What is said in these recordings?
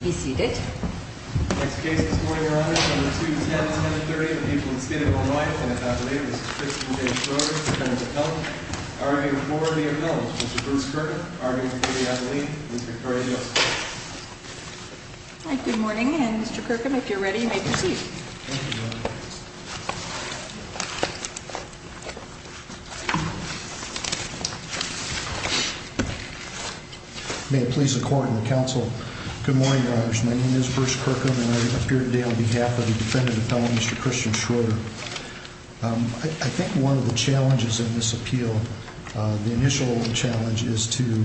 Be seated. Next case this morning, Your Honor, is number 210, 1030, the people of the State of Illinois, Lieutenant Attorney, Mr. Christian J. Schroeder, Lieutenant of Health, arguing for the appeal of Mr. Bruce Kirkham, arguing for the appeal of Ms. Victoria Joseph. Good morning, and Mr. Kirkham, if you're ready, you may proceed. Thank you, Your Honor. May it please the Court and the Council, good morning, Your Honors. My name is Bruce Kirkham, and I appear today on behalf of the defendant appellant, Mr. Christian Schroeder. I think one of the challenges in this appeal, the initial challenge, is to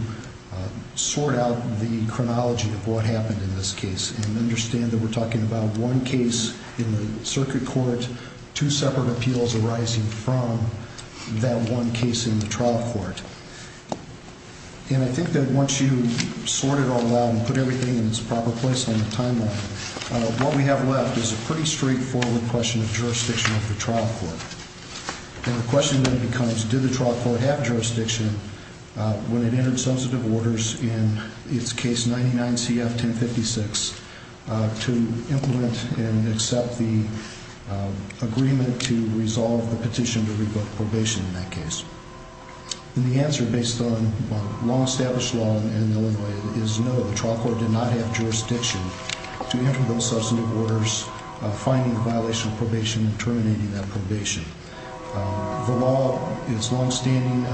sort out the chronology of what happened in this case and understand that we're talking about one case in the circuit court, two separate appeals arising from that one case in the trial court. And I think that once you sort it all out and put everything in its proper place on the timeline, what we have left is a pretty straightforward question of jurisdiction of the trial court. And the question then becomes, did the trial court have jurisdiction when it entered substantive orders in its case 99 CF 1056 to implement and accept the agreement to resolve the petition to revoke probation in that case? And the answer, based on law, established law in Illinois, is no, the trial court did not have jurisdiction to enter those substantive orders, finding the violation of probation, and terminating that probation. The law is longstanding,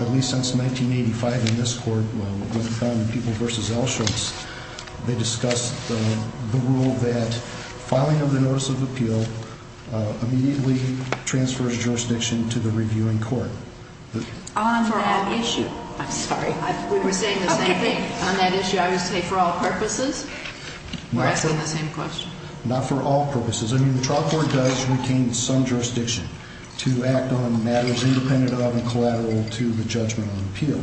at least since 1985 in this court, with the founding of People v. Alschutz. They discussed the rule that filing of the notice of appeal immediately transfers jurisdiction to the reviewing court. On that issue. I'm sorry. We were saying the same thing. On that issue, I would say for all purposes, we're asking the same question. Not for all purposes. I mean, the trial court does retain some jurisdiction to act on matters independent of and collateral to the judgment on appeal.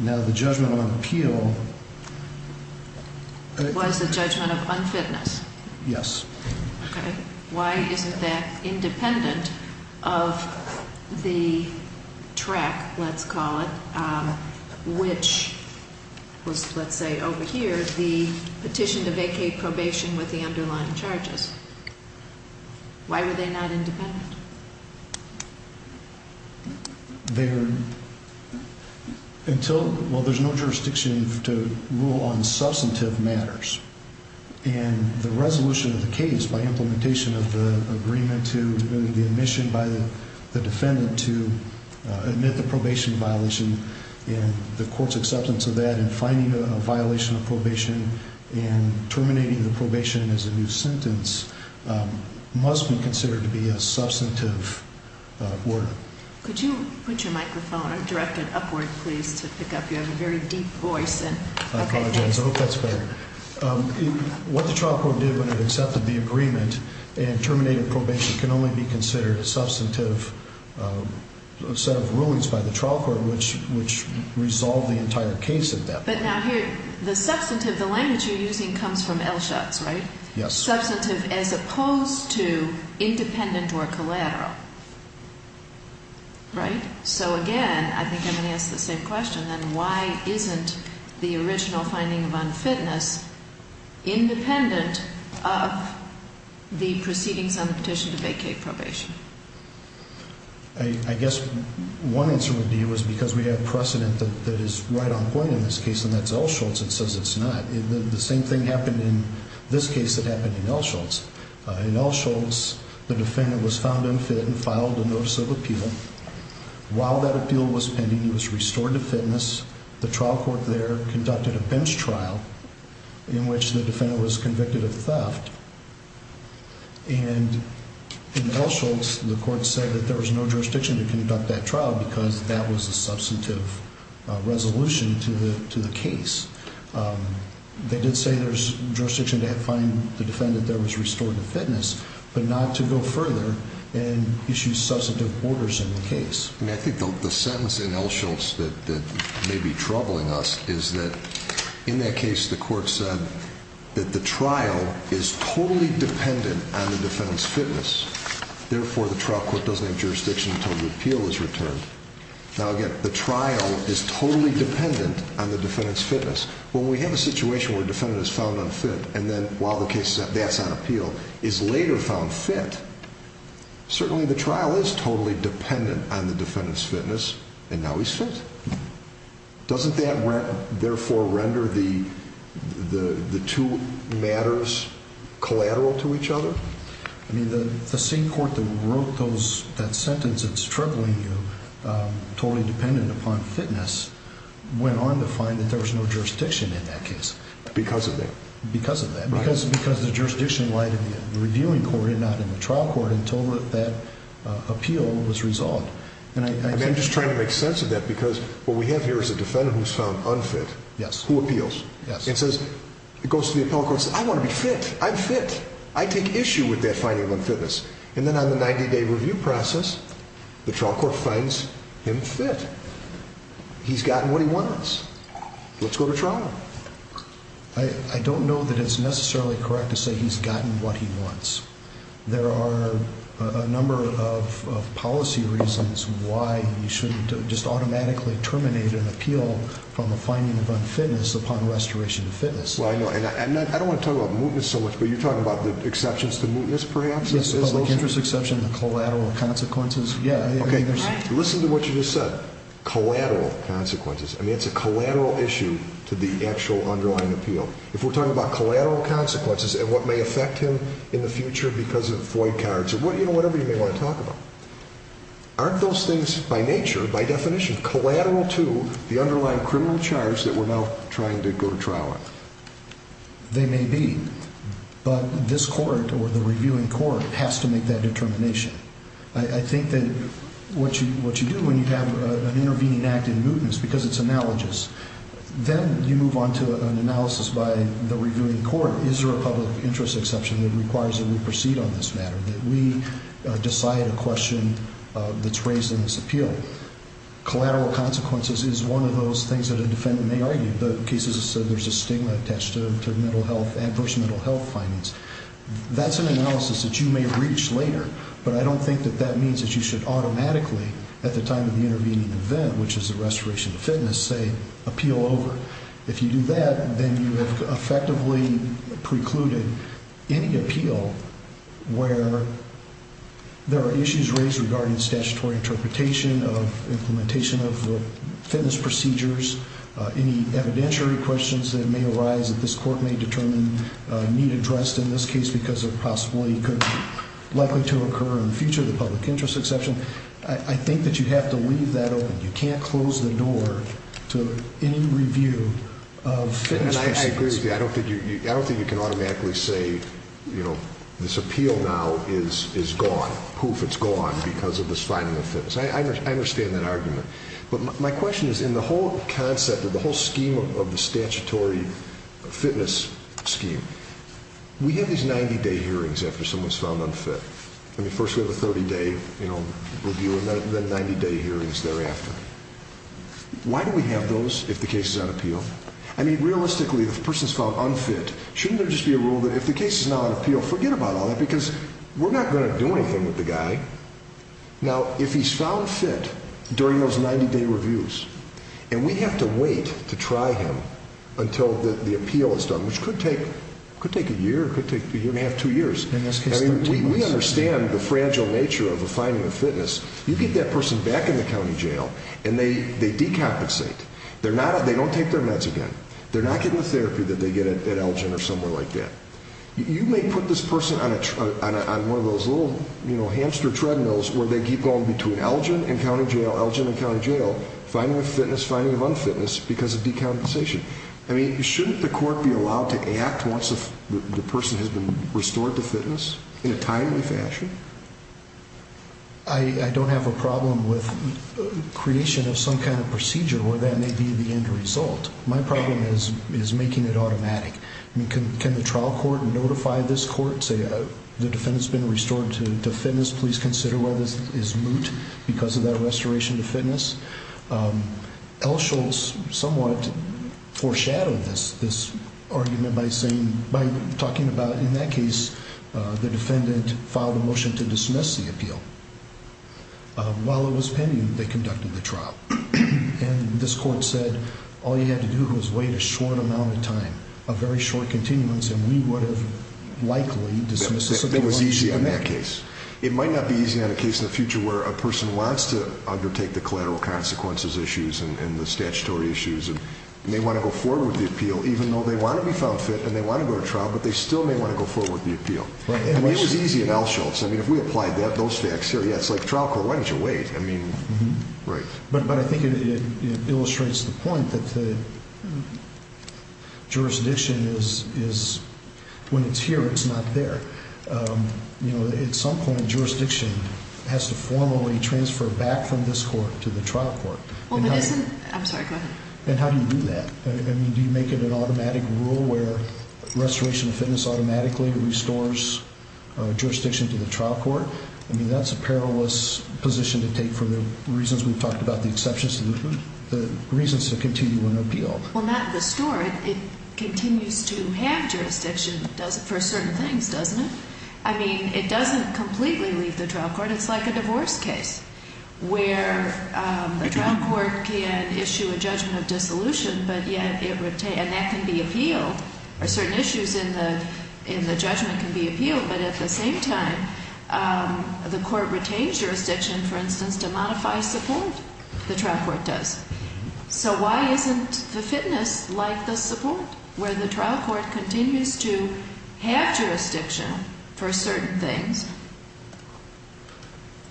Now, the judgment on appeal... Was the judgment of unfitness. Yes. Okay. Why isn't that independent of the track, let's call it, which was, let's say, over here, the petition to vacate probation with the underlying charges? Why were they not independent? Well, there's no jurisdiction to rule on substantive matters. And the resolution of the case by implementation of the agreement to the admission by the defendant to admit the probation violation and the court's acceptance of that and finding a violation of probation and terminating the probation as a new sentence must be considered to be a substantive order. Could you put your microphone directed upward, please, to pick up? You have a very deep voice. I apologize. I hope that's better. What the trial court did when it accepted the agreement and terminated probation can only be considered a substantive set of rulings by the trial court, which resolved the entire case at that point. But now here, the substantive, the language you're using comes from LSHOTS, right? Yes. Substantive as opposed to independent or collateral, right? So, again, I think I'm going to ask the same question, then. Why isn't the original finding of unfitness independent of the proceedings on the petition to vacate probation? I guess one answer would be it was because we have precedent that is right on point in this case, and that's LSHOTS that says it's not. The same thing happened in this case that happened in LSHOTS. In LSHOTS, the defendant was found unfit and filed a notice of appeal. While that appeal was pending, he was restored to fitness. The trial court there conducted a bench trial in which the defendant was convicted of theft. And in LSHOTS, the court said that there was no jurisdiction to conduct that trial because that was a substantive resolution to the case. They did say there's jurisdiction to find the defendant that was restored to fitness, but not to go further and issue substantive orders in the case. I think the sentence in LSHOTS that may be troubling us is that in that case, the court said that the trial is totally dependent on the defendant's fitness. Therefore, the trial court doesn't have jurisdiction until the appeal is returned. Now, again, the trial is totally dependent on the defendant's fitness. When we have a situation where a defendant is found unfit, and then while the case is on appeal, is later found fit, certainly the trial is totally dependent on the defendant's fitness, and now he's fit. Doesn't that therefore render the two matters collateral to each other? The same court that wrote that sentence that's troubling you, totally dependent upon fitness, went on to find that there was no jurisdiction in that case. Because of that? Because of that. Because the jurisdiction lied in the reviewing court and not in the trial court until that appeal was resolved. I'm just trying to make sense of that because what we have here is a defendant who's found unfit who appeals. It goes to the appellate court and says, I want to be fit. I'm fit. I take issue with that finding of unfitness. And then on the 90-day review process, the trial court finds him fit. He's gotten what he wants. Let's go to trial. I don't know that it's necessarily correct to say he's gotten what he wants. There are a number of policy reasons why you shouldn't just automatically terminate an appeal from a finding of unfitness upon restoration of fitness. I don't want to talk about mootness so much, but you're talking about the exceptions to mootness, perhaps? Yes, the public interest exception, the collateral consequences. Listen to what you just said. Collateral consequences. I mean, it's a collateral issue to the actual underlying appeal. If we're talking about collateral consequences and what may affect him in the future because of void cards or whatever you may want to talk about, aren't those things by nature, by definition, collateral to the underlying criminal charge that we're now trying to go to trial on? They may be, but this court or the reviewing court has to make that determination. I think that what you do when you have an intervening act in mootness because it's analogous, then you move on to an analysis by the reviewing court. Is there a public interest exception that requires that we proceed on this matter, that we decide a question that's raised in this appeal? Collateral consequences is one of those things that a defendant may argue. The case is that there's a stigma attached to adverse mental health findings. That's an analysis that you may reach later, but I don't think that that means that you should automatically, at the time of the intervening event, which is the restoration of fitness, say, appeal over. If you do that, then you have effectively precluded any appeal where there are issues raised regarding statutory interpretation of implementation of the fitness procedures, any evidentiary questions that may arise that this court may determine need addressed in this case because it possibly could be likely to occur in the future, the public interest exception. I think that you have to leave that open. You can't close the door to any review of fitness procedures. And I agree with you. I don't think you can automatically say, you know, this appeal now is gone. Poof, it's gone because of this finding of fitness. I understand that argument. But my question is in the whole concept of the whole scheme of the statutory fitness scheme, we have these 90-day hearings after someone's found unfit. I mean, first we have a 30-day review and then 90-day hearings thereafter. Why do we have those if the case is on appeal? I mean, realistically, if a person's found unfit, shouldn't there just be a rule that if the case is now on appeal, forget about all that because we're not going to do anything with the guy. Now, if he's found fit during those 90-day reviews and we have to wait to try him until the appeal is done, which could take a year, could take a year and a half, two years. I mean, we understand the fragile nature of a finding of fitness. You get that person back in the county jail and they decompensate. They don't take their meds again. They're not getting the therapy that they get at Elgin or somewhere like that. You may put this person on one of those little, you know, hamster treadmills where they keep going between Elgin and county jail, Elgin and county jail, finding of fitness, finding of unfitness because of decompensation. I mean, shouldn't the court be allowed to act once the person has been restored to fitness in a timely fashion? I don't have a problem with creation of some kind of procedure where that may be the end result. My problem is making it automatic. I mean, can the trial court notify this court, say, the defendant's been restored to fitness. Please consider whether this is moot because of that restoration to fitness. Elsholtz somewhat foreshadowed this argument by saying, by talking about, in that case, the defendant filed a motion to dismiss the appeal. While it was pending, they conducted the trial. And this court said all you had to do was wait a short amount of time, a very short continuance, and we would have likely dismissed the appeal. It was easy in that case. It might not be easy on a case in the future where a person wants to undertake the collateral consequences issues and the statutory issues, and they want to go forward with the appeal, even though they want to be found fit and they want to go to trial, but they still may want to go forward with the appeal. I mean, it was easy in Elsholtz. I mean, if we applied those facts here, yeah, it's like, trial court, why didn't you wait? I mean, right. But I think it illustrates the point that the jurisdiction is, when it's here, it's not there. You know, at some point, jurisdiction has to formally transfer back from this court to the trial court. I'm sorry, go ahead. And how do you do that? I mean, do you make it an automatic rule where restoration of fitness automatically restores jurisdiction to the trial court? I mean, that's a perilous position to take for the reasons we've talked about, the exceptions to the reasons to continue an appeal. Well, not restore it. It continues to have jurisdiction for certain things, doesn't it? I mean, it doesn't completely leave the trial court. It's like a divorce case where the trial court can issue a judgment of dissolution, and that can be appealed, or certain issues in the judgment can be appealed, but at the same time, the court retains jurisdiction, for instance, to modify support, the trial court does. So why isn't the fitness like the support, where the trial court continues to have jurisdiction for certain things?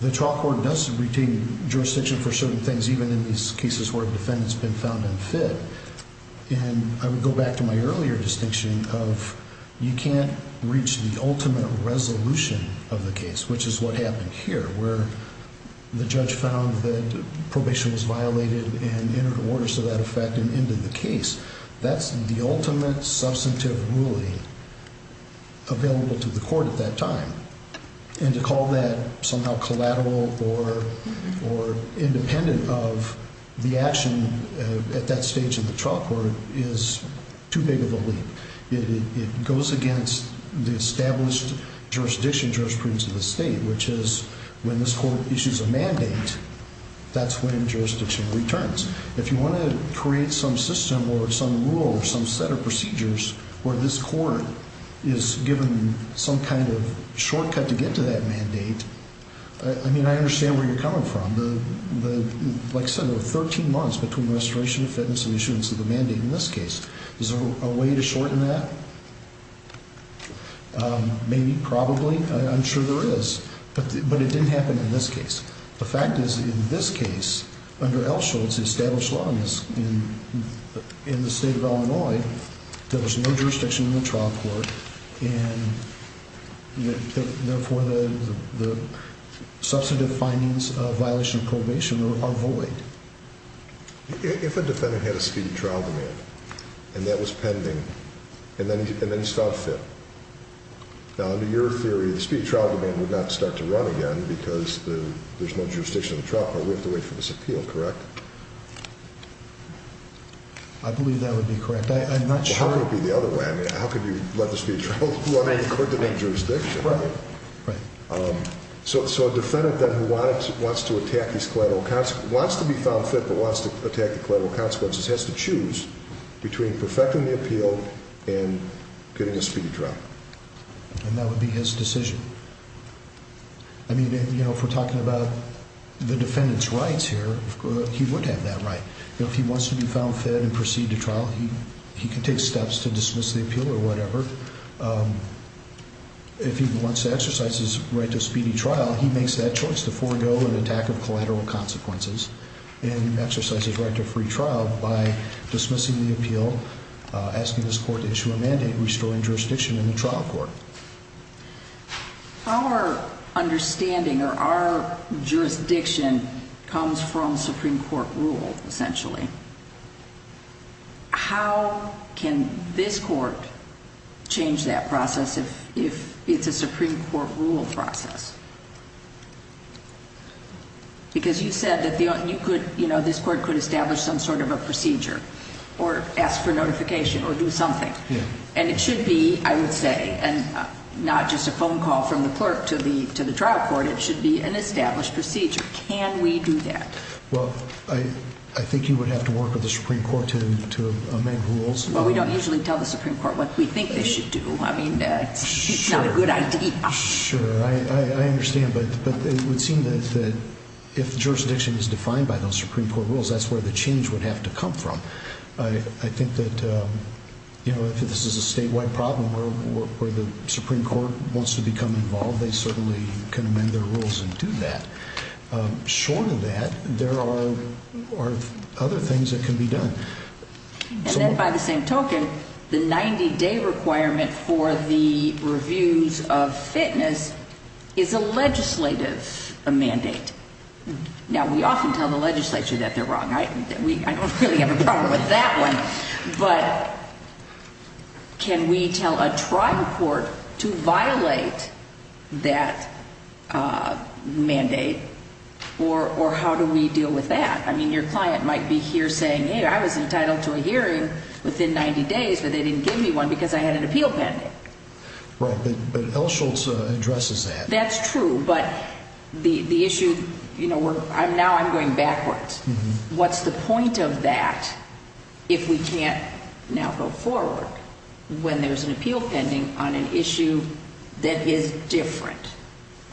The trial court does retain jurisdiction for certain things, even in these cases where a defendant's been found unfit. And I would go back to my earlier distinction of you can't reach the ultimate resolution of the case, which is what happened here, where the judge found that probation was violated and entered orders to that effect and ended the case. That's the ultimate substantive ruling available to the court at that time. And to call that somehow collateral or independent of the action at that stage in the trial court is too big of a leap. It goes against the established jurisdiction, jurisprudence of the state, which is when this court issues a mandate, that's when jurisdiction returns. If you want to create some system or some rule or some set of procedures where this court is given some kind of shortcut to get to that mandate, I mean, I understand where you're coming from. Like I said, there were 13 months between restoration of fitness and issuance of the mandate in this case. Is there a way to shorten that? Maybe, probably, I'm sure there is. But it didn't happen in this case. The fact is, in this case, under Elsholtz's established law in the state of Illinois, there was no jurisdiction in the trial court, and therefore the substantive findings of violation of probation are void. If a defendant had a speedy trial demand and that was pending and then he's found fit, now, under your theory, the speedy trial demand would not start to run again because there's no jurisdiction in the trial court. We have to wait for this appeal, correct? I believe that would be correct. I'm not sure. How could it be the other way? I mean, how could you let the speedy trial demand occur without jurisdiction? Right. So a defendant then who wants to attack these collateral consequences, wants to be found fit but wants to attack the collateral consequences, has to choose between perfecting the appeal and getting a speedy trial. And that would be his decision. I mean, you know, if we're talking about the defendant's rights here, he would have that right. If he wants to be found fit and proceed to trial, he can take steps to dismiss the appeal or whatever. If he wants to exercise his right to a speedy trial, he makes that choice to forego an attack of collateral consequences and exercise his right to a free trial by dismissing the appeal, asking this court to issue a mandate restoring jurisdiction in the trial court. Our understanding or our jurisdiction comes from Supreme Court rule, essentially. How can this court change that process if it's a Supreme Court rule process? Because you said that this court could establish some sort of a procedure or ask for notification or do something. And it should be, I would say, not just a phone call from the clerk to the trial court. It should be an established procedure. Can we do that? Well, I think you would have to work with the Supreme Court to amend rules. Well, we don't usually tell the Supreme Court what we think they should do. I mean, it's not a good idea. Sure. I understand. But it would seem that if jurisdiction is defined by those Supreme Court rules, that's where the change would have to come from. I think that if this is a statewide problem where the Supreme Court wants to become involved, they certainly can amend their rules and do that. Short of that, there are other things that can be done. And then by the same token, the 90-day requirement for the reviews of fitness is a legislative mandate. Now, we often tell the legislature that they're wrong. I don't really have a problem with that one. But can we tell a trial court to violate that mandate or how do we deal with that? I mean, your client might be here saying, hey, I was entitled to a hearing within 90 days, but they didn't give me one because I had an appeal pending. Right. But L. Schultz addresses that. That's true. But the issue, you know, now I'm going backwards. What's the point of that if we can't now go forward when there's an appeal pending on an issue that is different?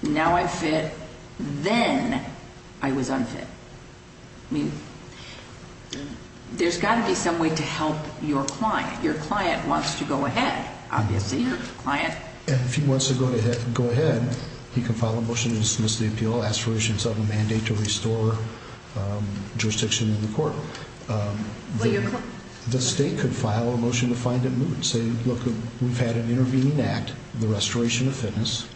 Now I'm fit. Then I was unfit. I mean, there's got to be some way to help your client. Your client wants to go ahead, obviously. And if he wants to go ahead, he can file a motion to dismiss the appeal, ask for reasons of a mandate to restore jurisdiction in the court. The state could file a motion to find it moot and say, look, we've had an intervening act, the restoration of fitness.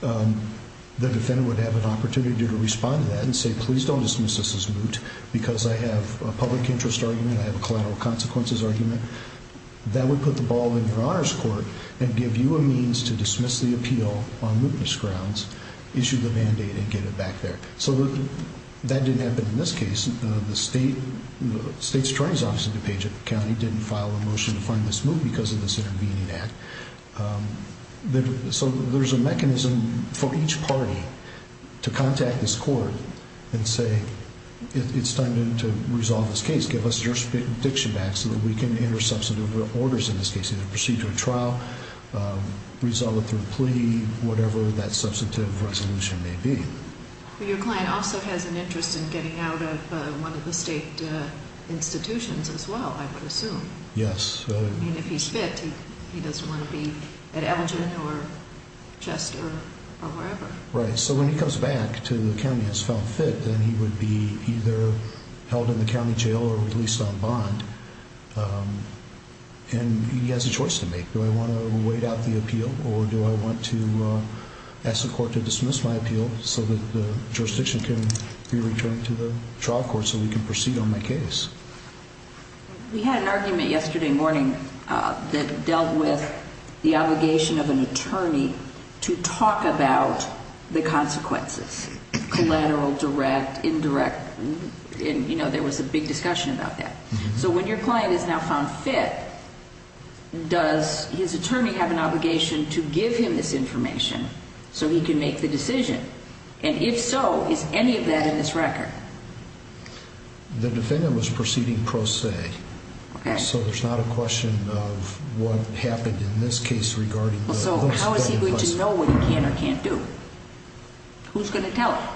The defendant would have an opportunity to respond to that and say, please don't dismiss this as moot because I have a public interest argument, I have a collateral consequences argument. That would put the ball in your honor's court and give you a means to dismiss the appeal on mootness grounds, issue the mandate and get it back there. So that didn't happen in this case. The state's attorney's office in DuPage County didn't file a motion to find this moot because of this intervening act. So there's a mechanism for each party to contact this court and say, it's time to resolve this case, give us jurisdiction back so that we can enter substantive orders in this case, either procedure or trial, resolve it through plea, whatever that substantive resolution may be. Your client also has an interest in getting out of one of the state institutions as well, I would assume. Yes. I mean, if he's fit, he doesn't want to be at Elgin or Chester or wherever. Right. So when he comes back to the county as found fit, then he would be either held in the county jail or released on bond. And he has a choice to make. Do I want to wait out the appeal or do I want to ask the court to dismiss my appeal so that the jurisdiction can be returned to the trial court so we can proceed on my case? We had an argument yesterday morning that dealt with the obligation of an attorney to talk about the consequences, collateral, direct, indirect, and, you know, there was a big discussion about that. So when your client is now found fit, does his attorney have an obligation to give him this information so he can make the decision? And if so, is any of that in this record? The defendant was proceeding pro se. Okay. So there's not a question of what happened in this case regarding the hopes and plans. So how is he going to know what he can or can't do? Who's going to tell him?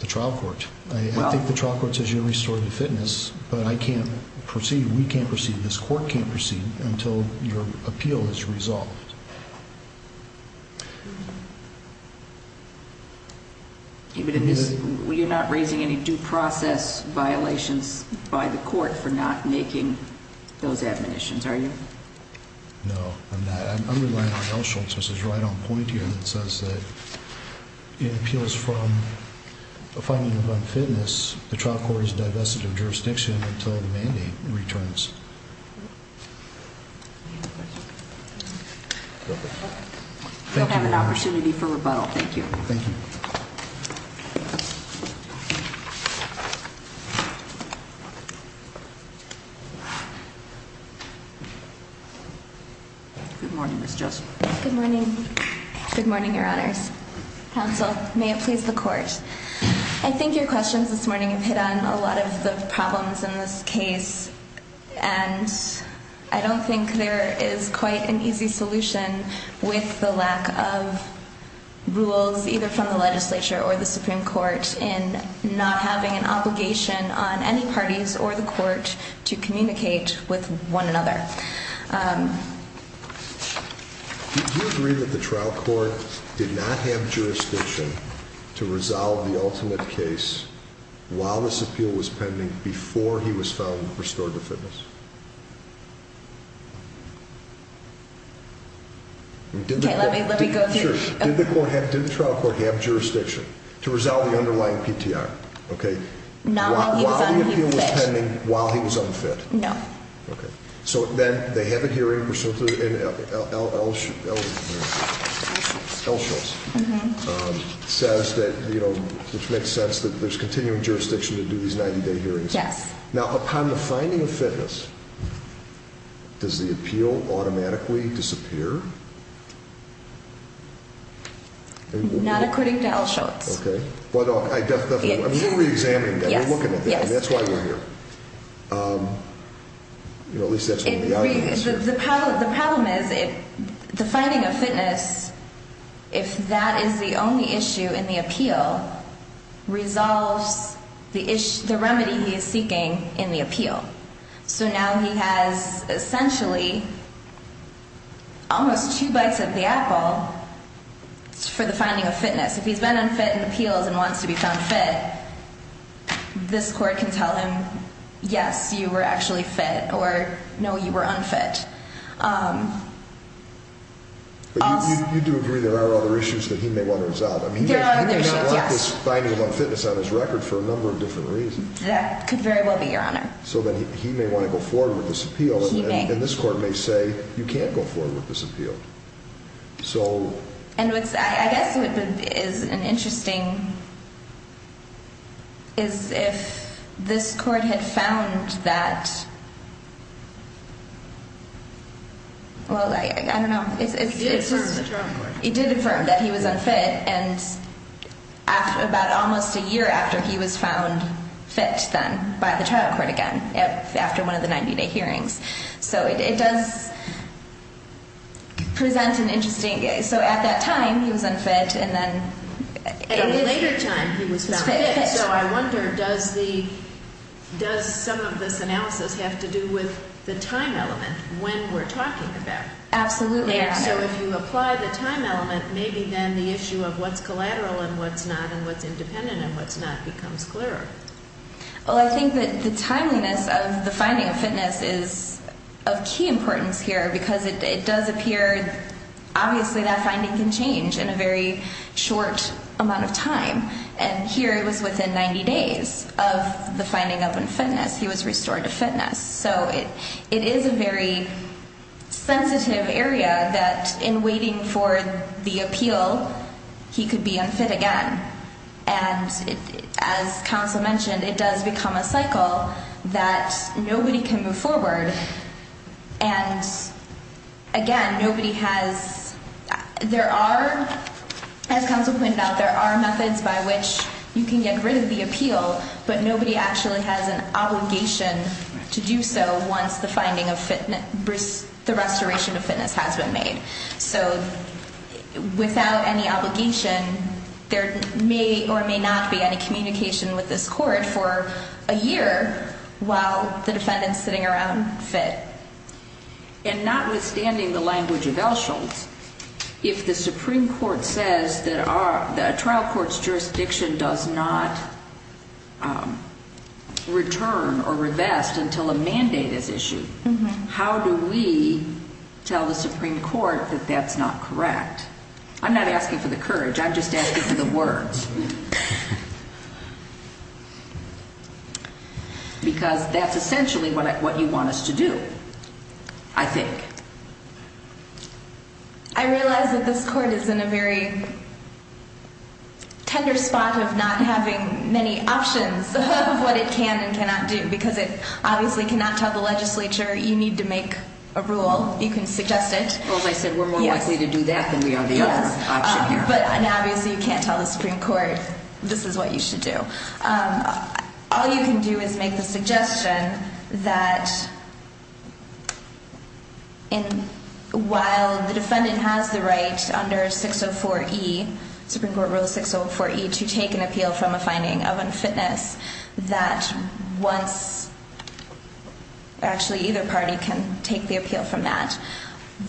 The trial court. I think the trial court says you're restored to fitness, but I can't proceed, we can't proceed, this court can't proceed until your appeal is resolved. You're not raising any due process violations by the court for not making those admonitions, are you? No, I'm not. I'm relying on Elsholtz, which is right on point here, and it says that in appeals from a finding of unfitness, the trial court is divested of jurisdiction until the mandate returns. Do you have a question? No. Thank you, Your Honor. You'll have an opportunity for rebuttal. Thank you. Thank you. Good morning, Ms. Joseph. Good morning. Good morning, Your Honors. Counsel, may it please the court. I think your questions this morning have hit on a lot of the problems in this case, and I don't think there is quite an easy solution with the lack of rules, either from the legislature or the Supreme Court, in not having an obligation on any parties or the court to communicate with one another. Do you agree that the trial court did not have jurisdiction to resolve the ultimate case while this appeal was pending before he was found restored to fitness? Okay, let me go through. Did the trial court have jurisdiction to resolve the underlying PTR? Not while he was unfit. While the appeal was pending, while he was unfit? No. Okay. So then they have a hearing, and L. Schultz says that, you know, which makes sense that there's continuing jurisdiction to do these 90-day hearings. Yes. Now, upon the finding of fitness, does the appeal automatically disappear? Not according to L. Schultz. Okay. I'm reexamining that. We're looking at that, and that's why we're here. You know, at least that's one of the arguments. The problem is, the finding of fitness, if that is the only issue in the appeal, resolves the remedy he is seeking in the appeal. So now he has essentially almost two bites of the apple for the finding of fitness. If he's been unfit in appeals and wants to be found fit, this court can tell him, yes, you were actually fit, or no, you were unfit. But you do agree there are other issues that he may want to resolve. There are other issues, yes. I mean, he may not want this finding of unfitness on his record for a number of different reasons. That could very well be, Your Honor. So then he may want to go forward with this appeal. He may. And this court may say, you can't go forward with this appeal. And I guess what is interesting is if this court had found that, well, I don't know. It did affirm the trial court. It did affirm that he was unfit. And about almost a year after he was found fit then by the trial court again, after one of the 90-day hearings. So it does present an interesting case. So at that time, he was unfit. And then at a later time, he was found fit. So I wonder, does some of this analysis have to do with the time element when we're talking about? Absolutely, Your Honor. So if you apply the time element, maybe then the issue of what's collateral and what's not and what's independent and what's not becomes clearer. Well, I think that the timeliness of the finding of fitness is of key importance here because it does appear obviously that finding can change in a very short amount of time. And here it was within 90 days of the finding of unfitness. He was restored to fitness. So it is a very sensitive area that in waiting for the appeal, he could be unfit again. And as counsel mentioned, it does become a cycle that nobody can move forward. And again, nobody has – there are, as counsel pointed out, there are methods by which you can get rid of the appeal, but nobody actually has an obligation to do so once the finding of fitness – the restoration of fitness has been made. So without any obligation, there may or may not be any communication with this court for a year while the defendant's sitting around fit. And notwithstanding the language of Elsholtz, if the Supreme Court says that a trial court's jurisdiction does not return or revest until a mandate is issued, how do we tell the Supreme Court that that's not correct? I'm not asking for the courage. I'm just asking for the words. Because that's essentially what you want us to do, I think. I realize that this court is in a very tender spot of not having many options of what it can and cannot do because it obviously cannot tell the legislature you need to make a rule. You can suggest it. Well, as I said, we're more likely to do that than we are the other option here. Yes. But obviously you can't tell the Supreme Court this is what you should do. All you can do is make the suggestion that while the defendant has the right under 604E, Supreme Court Rule 604E, to take an appeal from a finding of unfitness, that once, actually either party can take the appeal from that,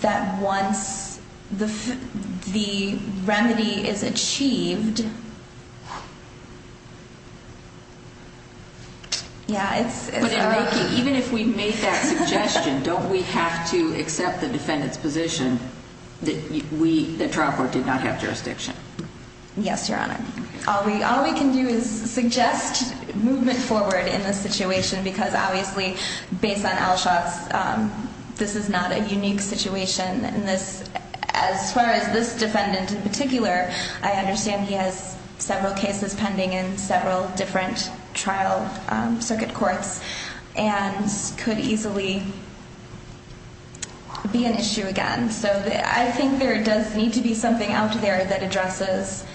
that once the remedy is achieved, yeah, it's okay. But even if we make that suggestion, don't we have to accept the defendant's position that the trial court did not have jurisdiction? Yes, Your Honor. All we can do is suggest movement forward in this situation because obviously based on Alshaw's, this is not a unique situation. As far as this defendant in particular, I understand he has several cases pending in several different trial circuit courts and could easily be an issue again. So I think there does need to be something out there that addresses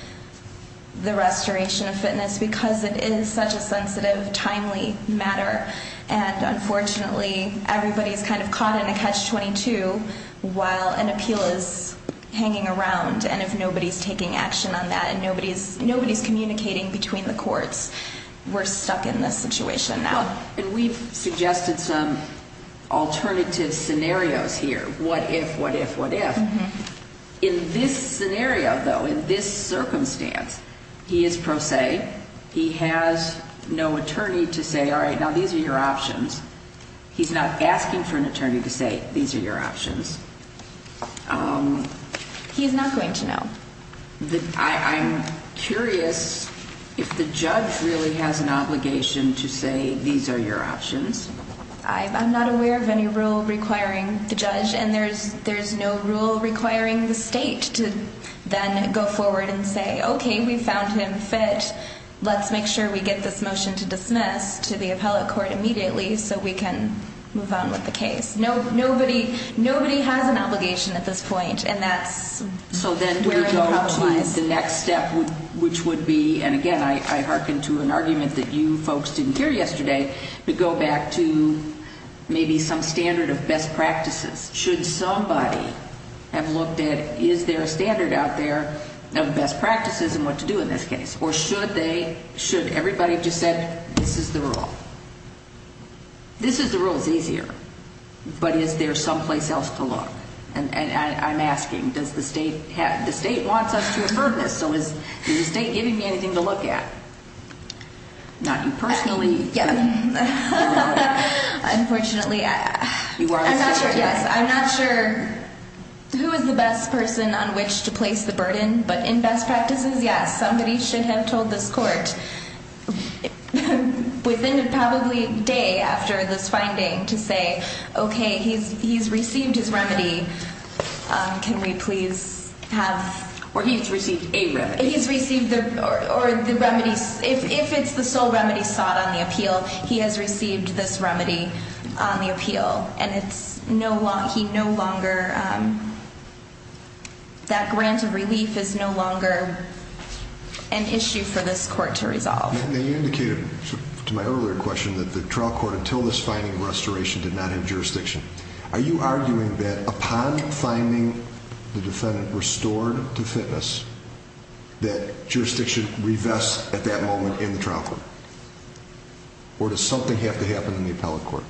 the restoration of fitness because it is such a sensitive, timely matter. And unfortunately, everybody's kind of caught in a catch-22 while an appeal is hanging around. And if nobody's taking action on that and nobody's communicating between the courts, we're stuck in this situation now. And we've suggested some alternative scenarios here, what if, what if, what if. In this scenario, though, in this circumstance, he is pro se. He has no attorney to say, all right, now these are your options. He's not asking for an attorney to say these are your options. He's not going to know. I'm curious if the judge really has an obligation to say these are your options. I'm not aware of any rule requiring the judge. And there's no rule requiring the state to then go forward and say, okay, we found him fit. Let's make sure we get this motion to dismiss to the appellate court immediately so we can move on with the case. Nobody has an obligation at this point. And that's where the problem lies. So then do we go to the next step, which would be, and again, I hearken to an argument that you folks didn't hear yesterday, to go back to maybe some standard of best practices. Should somebody have looked at is there a standard out there of best practices and what to do in this case? Or should they, should everybody just say this is the rule? This is the rule. It's easier. But is there someplace else to look? And I'm asking, does the state have, the state wants us to have heard this. So is the state giving me anything to look at? Not you personally. Unfortunately, I'm not sure who is the best person on which to place the burden. But in best practices, yes, somebody should have told this court within probably a day after this finding to say, okay, he's received his remedy, can we please have. Or he's received a remedy. He's received the, or the remedy, if it's the sole remedy sought on the appeal, he has received this remedy on the appeal. And it's no longer, he no longer, that grant of relief is no longer an issue for this court to resolve. Now you indicated to my earlier question that the trial court until this finding restoration did not have jurisdiction. Are you arguing that upon finding the defendant restored to fitness, that jurisdiction revests at that moment in the trial court? Or does something have to happen in the appellate court?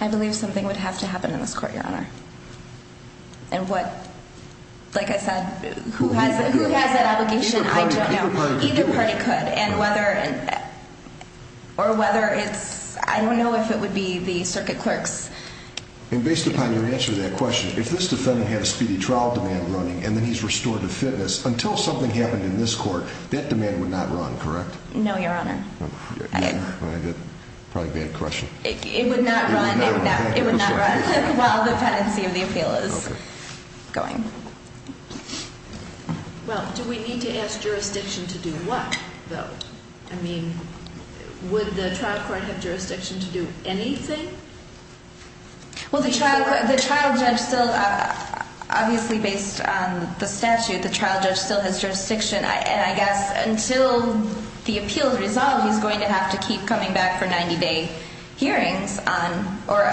I believe something would have to happen in this court, Your Honor. And what, like I said, who has that obligation, I don't know. Either party could. Either party could. And whether, or whether it's, I don't know if it would be the circuit clerks. And based upon your answer to that question, if this defendant had a speedy trial demand, and then he's restored to fitness, until something happened in this court, that demand would not run, correct? No, Your Honor. Probably a bad question. It would not run. It would not run. While the pendency of the appeal is going. Well, do we need to ask jurisdiction to do what, though? I mean, would the trial court have jurisdiction to do anything? Well, the trial judge still, obviously based on the statute, the trial judge still has jurisdiction. And I guess until the appeal is resolved, he's going to have to keep coming back for 90-day hearings. Or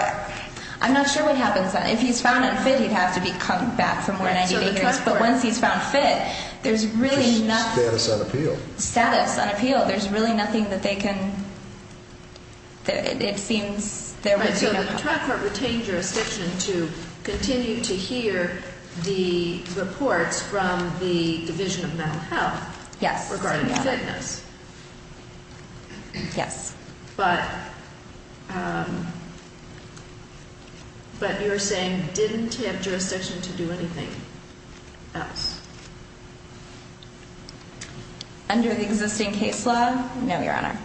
I'm not sure what happens. If he's found unfit, he'd have to come back for more 90-day hearings. But once he's found fit, there's really nothing. Status on appeal. Status on appeal. There's really nothing that they can, it seems there would be no. So the trial court retained jurisdiction to continue to hear the reports from the Division of Mental Health. Yes. Regarding fitness. Yes. But you're saying didn't he have jurisdiction to do anything else? Under the existing case law, no, Your Honor.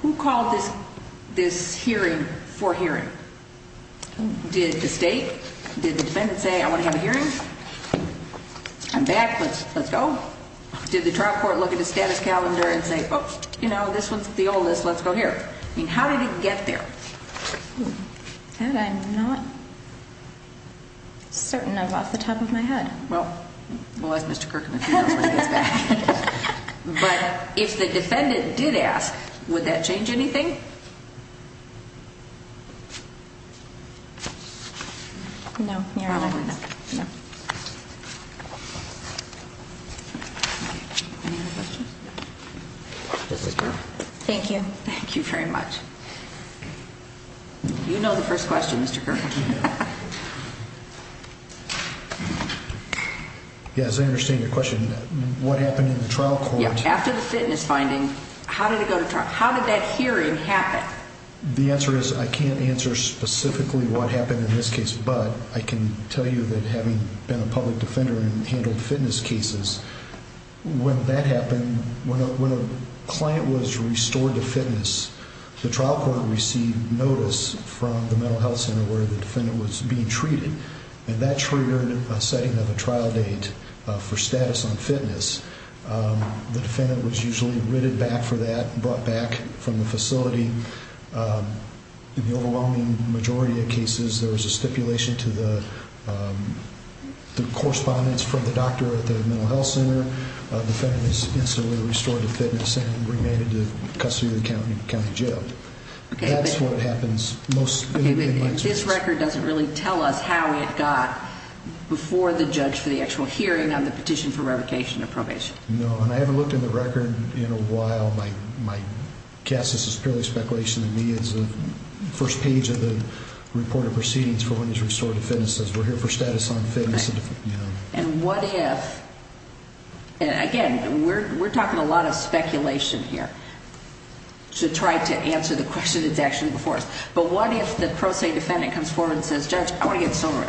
Who called this hearing for hearing? Did the state? Did the defendant say, I want to have a hearing? I'm back. Let's go. Did the trial court look at the status calendar and say, oh, you know, this one's the oldest. Let's go here. I mean, how did it get there? That I'm not certain of off the top of my head. Well, we'll ask Mr. Kirkham if he knows when he gets back. But if the defendant did ask, would that change anything? No, Your Honor. Probably not. Any other questions? Thank you. Thank you very much. You know the first question, Mr. Kirkham. Yes, I understand your question. What happened in the trial court? After the fitness finding, how did it go to trial? How did that hearing happen? The answer is I can't answer specifically what happened in this case, but I can tell you that having been a public defender and handled fitness cases, when that happened, when a client was restored to fitness, the trial court received notice from the mental health center where the defendant was being treated, and that triggered a setting of a trial date for status on fitness. The defendant was usually written back for that, brought back from the facility. In the overwhelming majority of cases, there was a stipulation to the correspondence from the doctor at the mental health center. The defendant was instantly restored to fitness and remanded to custody of the county jail. That's what happens most of the time. Okay, but his record doesn't really tell us how it got before the judge for the actual hearing on the petition for revocation of probation. No, and I haven't looked in the record in a while. My guess is it's purely speculation. To me, it's the first page of the report of proceedings for when he's restored to fitness. It says we're here for status on fitness. And what if, and again, we're talking a lot of speculation here to try to answer the question that's actually before us, but what if the pro se defendant comes forward and says, Judge, I want to get sober.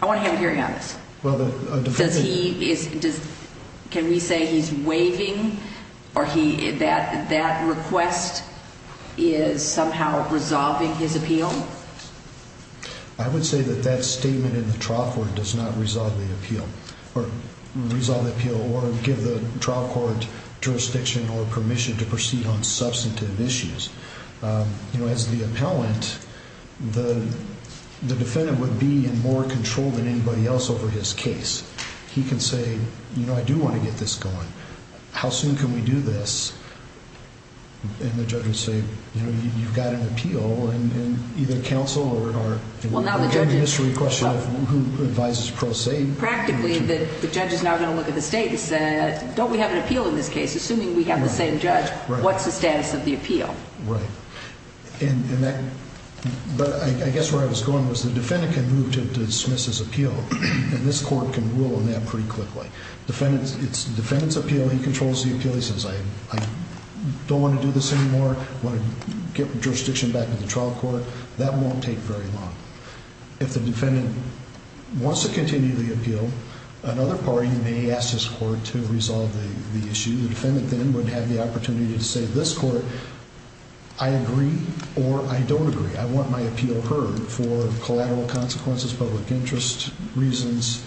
I want to have a hearing on this. Can we say he's waiving or that request is somehow resolving his appeal? I would say that that statement in the trial court does not resolve the appeal or give the trial court jurisdiction or permission to proceed on substantive issues. You know, as the appellant, the defendant would be in more control than anybody else over his case. He can say, you know, I do want to get this going. How soon can we do this? And the judge would say, you know, you've got an appeal, and either counsel or the mystery question of who advises pro se. Practically, the judge is now going to look at the status. Don't we have an appeal in this case? Assuming we have the same judge, what's the status of the appeal? Right. But I guess where I was going was the defendant can move to dismiss his appeal, and this court can rule on that pretty quickly. It's the defendant's appeal. He controls the appeal. He says, I don't want to do this anymore. I want to get jurisdiction back to the trial court. That won't take very long. If the defendant wants to continue the appeal, another party may ask this court to resolve the issue. The defendant then would have the opportunity to say, this court, I agree or I don't agree. I want my appeal heard for collateral consequences, public interest reasons,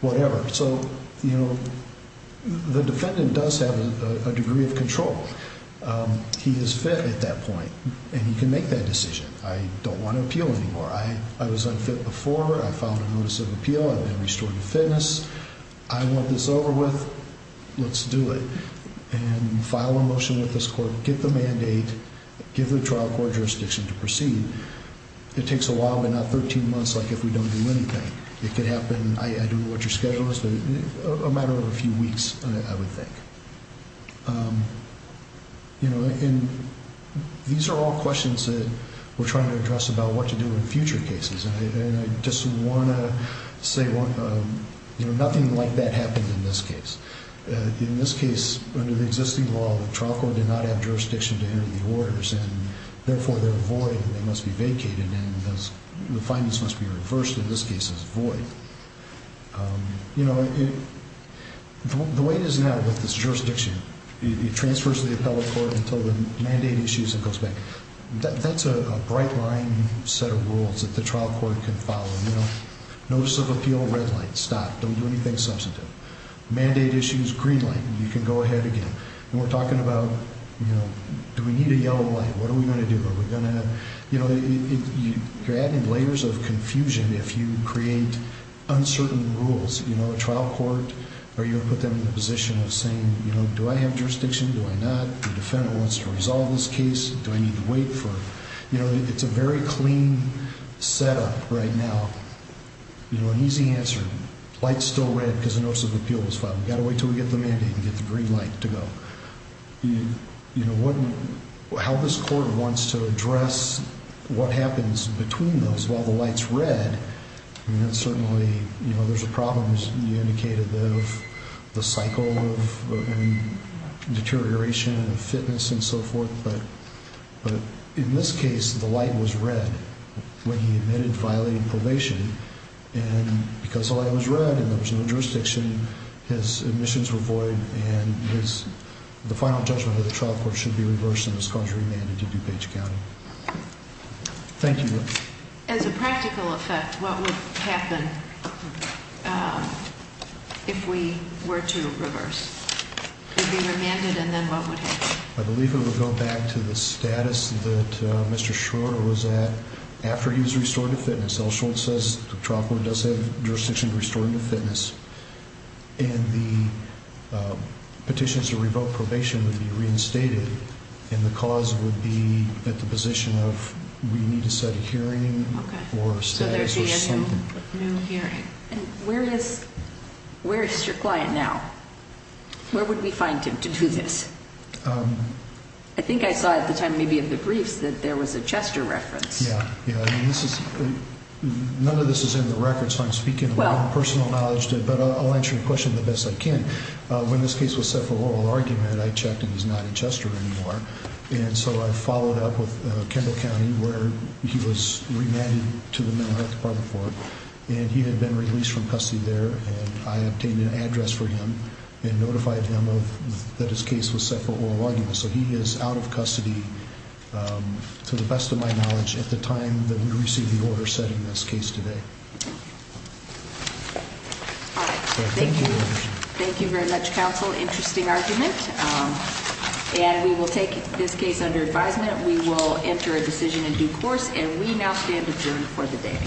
whatever. So, you know, the defendant does have a degree of control. He is fit at that point, and he can make that decision. I don't want to appeal anymore. I was unfit before. I filed a notice of appeal. I've been restored to fitness. I want this over with. Let's do it. And file a motion with this court. Get the mandate. Give the trial court jurisdiction to proceed. It takes a while, but not 13 months like if we don't do anything. It could happen, I don't know what your schedule is, but a matter of a few weeks, I would think. You know, and these are all questions that we're trying to address about what to do in future cases. And I just want to say, you know, nothing like that happened in this case. In this case, under the existing law, the trial court did not have jurisdiction to enter the orders, and therefore they're void and they must be vacated, and the findings must be reversed. In this case, it's void. You know, the way it is now with this jurisdiction, it transfers to the appellate court until the mandate issues and goes back. That's a bright line set of rules that the trial court can follow. You know, notice of appeal, red light, stop, don't do anything substantive. Mandate issues, green light, you can go ahead again. And we're talking about, you know, do we need a yellow light? What are we going to do? You know, you're adding layers of confusion if you create uncertain rules. You know, a trial court, are you going to put them in the position of saying, you know, do I have jurisdiction, do I not? The defendant wants to resolve this case, do I need to wait for it? You know, it's a very clean setup right now. You know, an easy answer, light's still red because the notice of appeal was filed. We've got to wait until we get the mandate and get the green light to go. You know, how this court wants to address what happens between those while the light's red, I mean, that's certainly, you know, there's a problem as you indicated of the cycle of deterioration of fitness and so forth. But in this case, the light was red when he admitted violating probation. And because the light was red and there was no jurisdiction, his admissions were void and the final judgment of the trial court should be reversed and his cause remanded to DuPage County. Thank you. As a practical effect, what would happen if we were to reverse? He'd be remanded and then what would happen? I believe it would go back to the status that Mr. Schroeder was at after he was restored to fitness. As Elsholt says, the trial court does have jurisdiction to restore him to fitness. And the petitions to revoke probation would be reinstated and the cause would be at the position of we need to set a hearing or status or something. Okay, so there's a new hearing. And where is your client now? Where would we find him to do this? I think I saw at the time maybe in the briefs that there was a Chester reference. None of this is in the records, so I'm speaking from personal knowledge, but I'll answer your question the best I can. When this case was set for oral argument, I checked and he's not at Chester anymore. And so I followed up with Kendall County where he was remanded to the Mental Health Department for it. And he had been released from custody there and I obtained an address for him and notified him that his case was set for oral argument. So he is out of custody, to the best of my knowledge, at the time that we received the order setting this case today. All right. Thank you very much, counsel. Interesting argument. And we will take this case under advisement. We will enter a decision in due course. And we now stand adjourned for the day.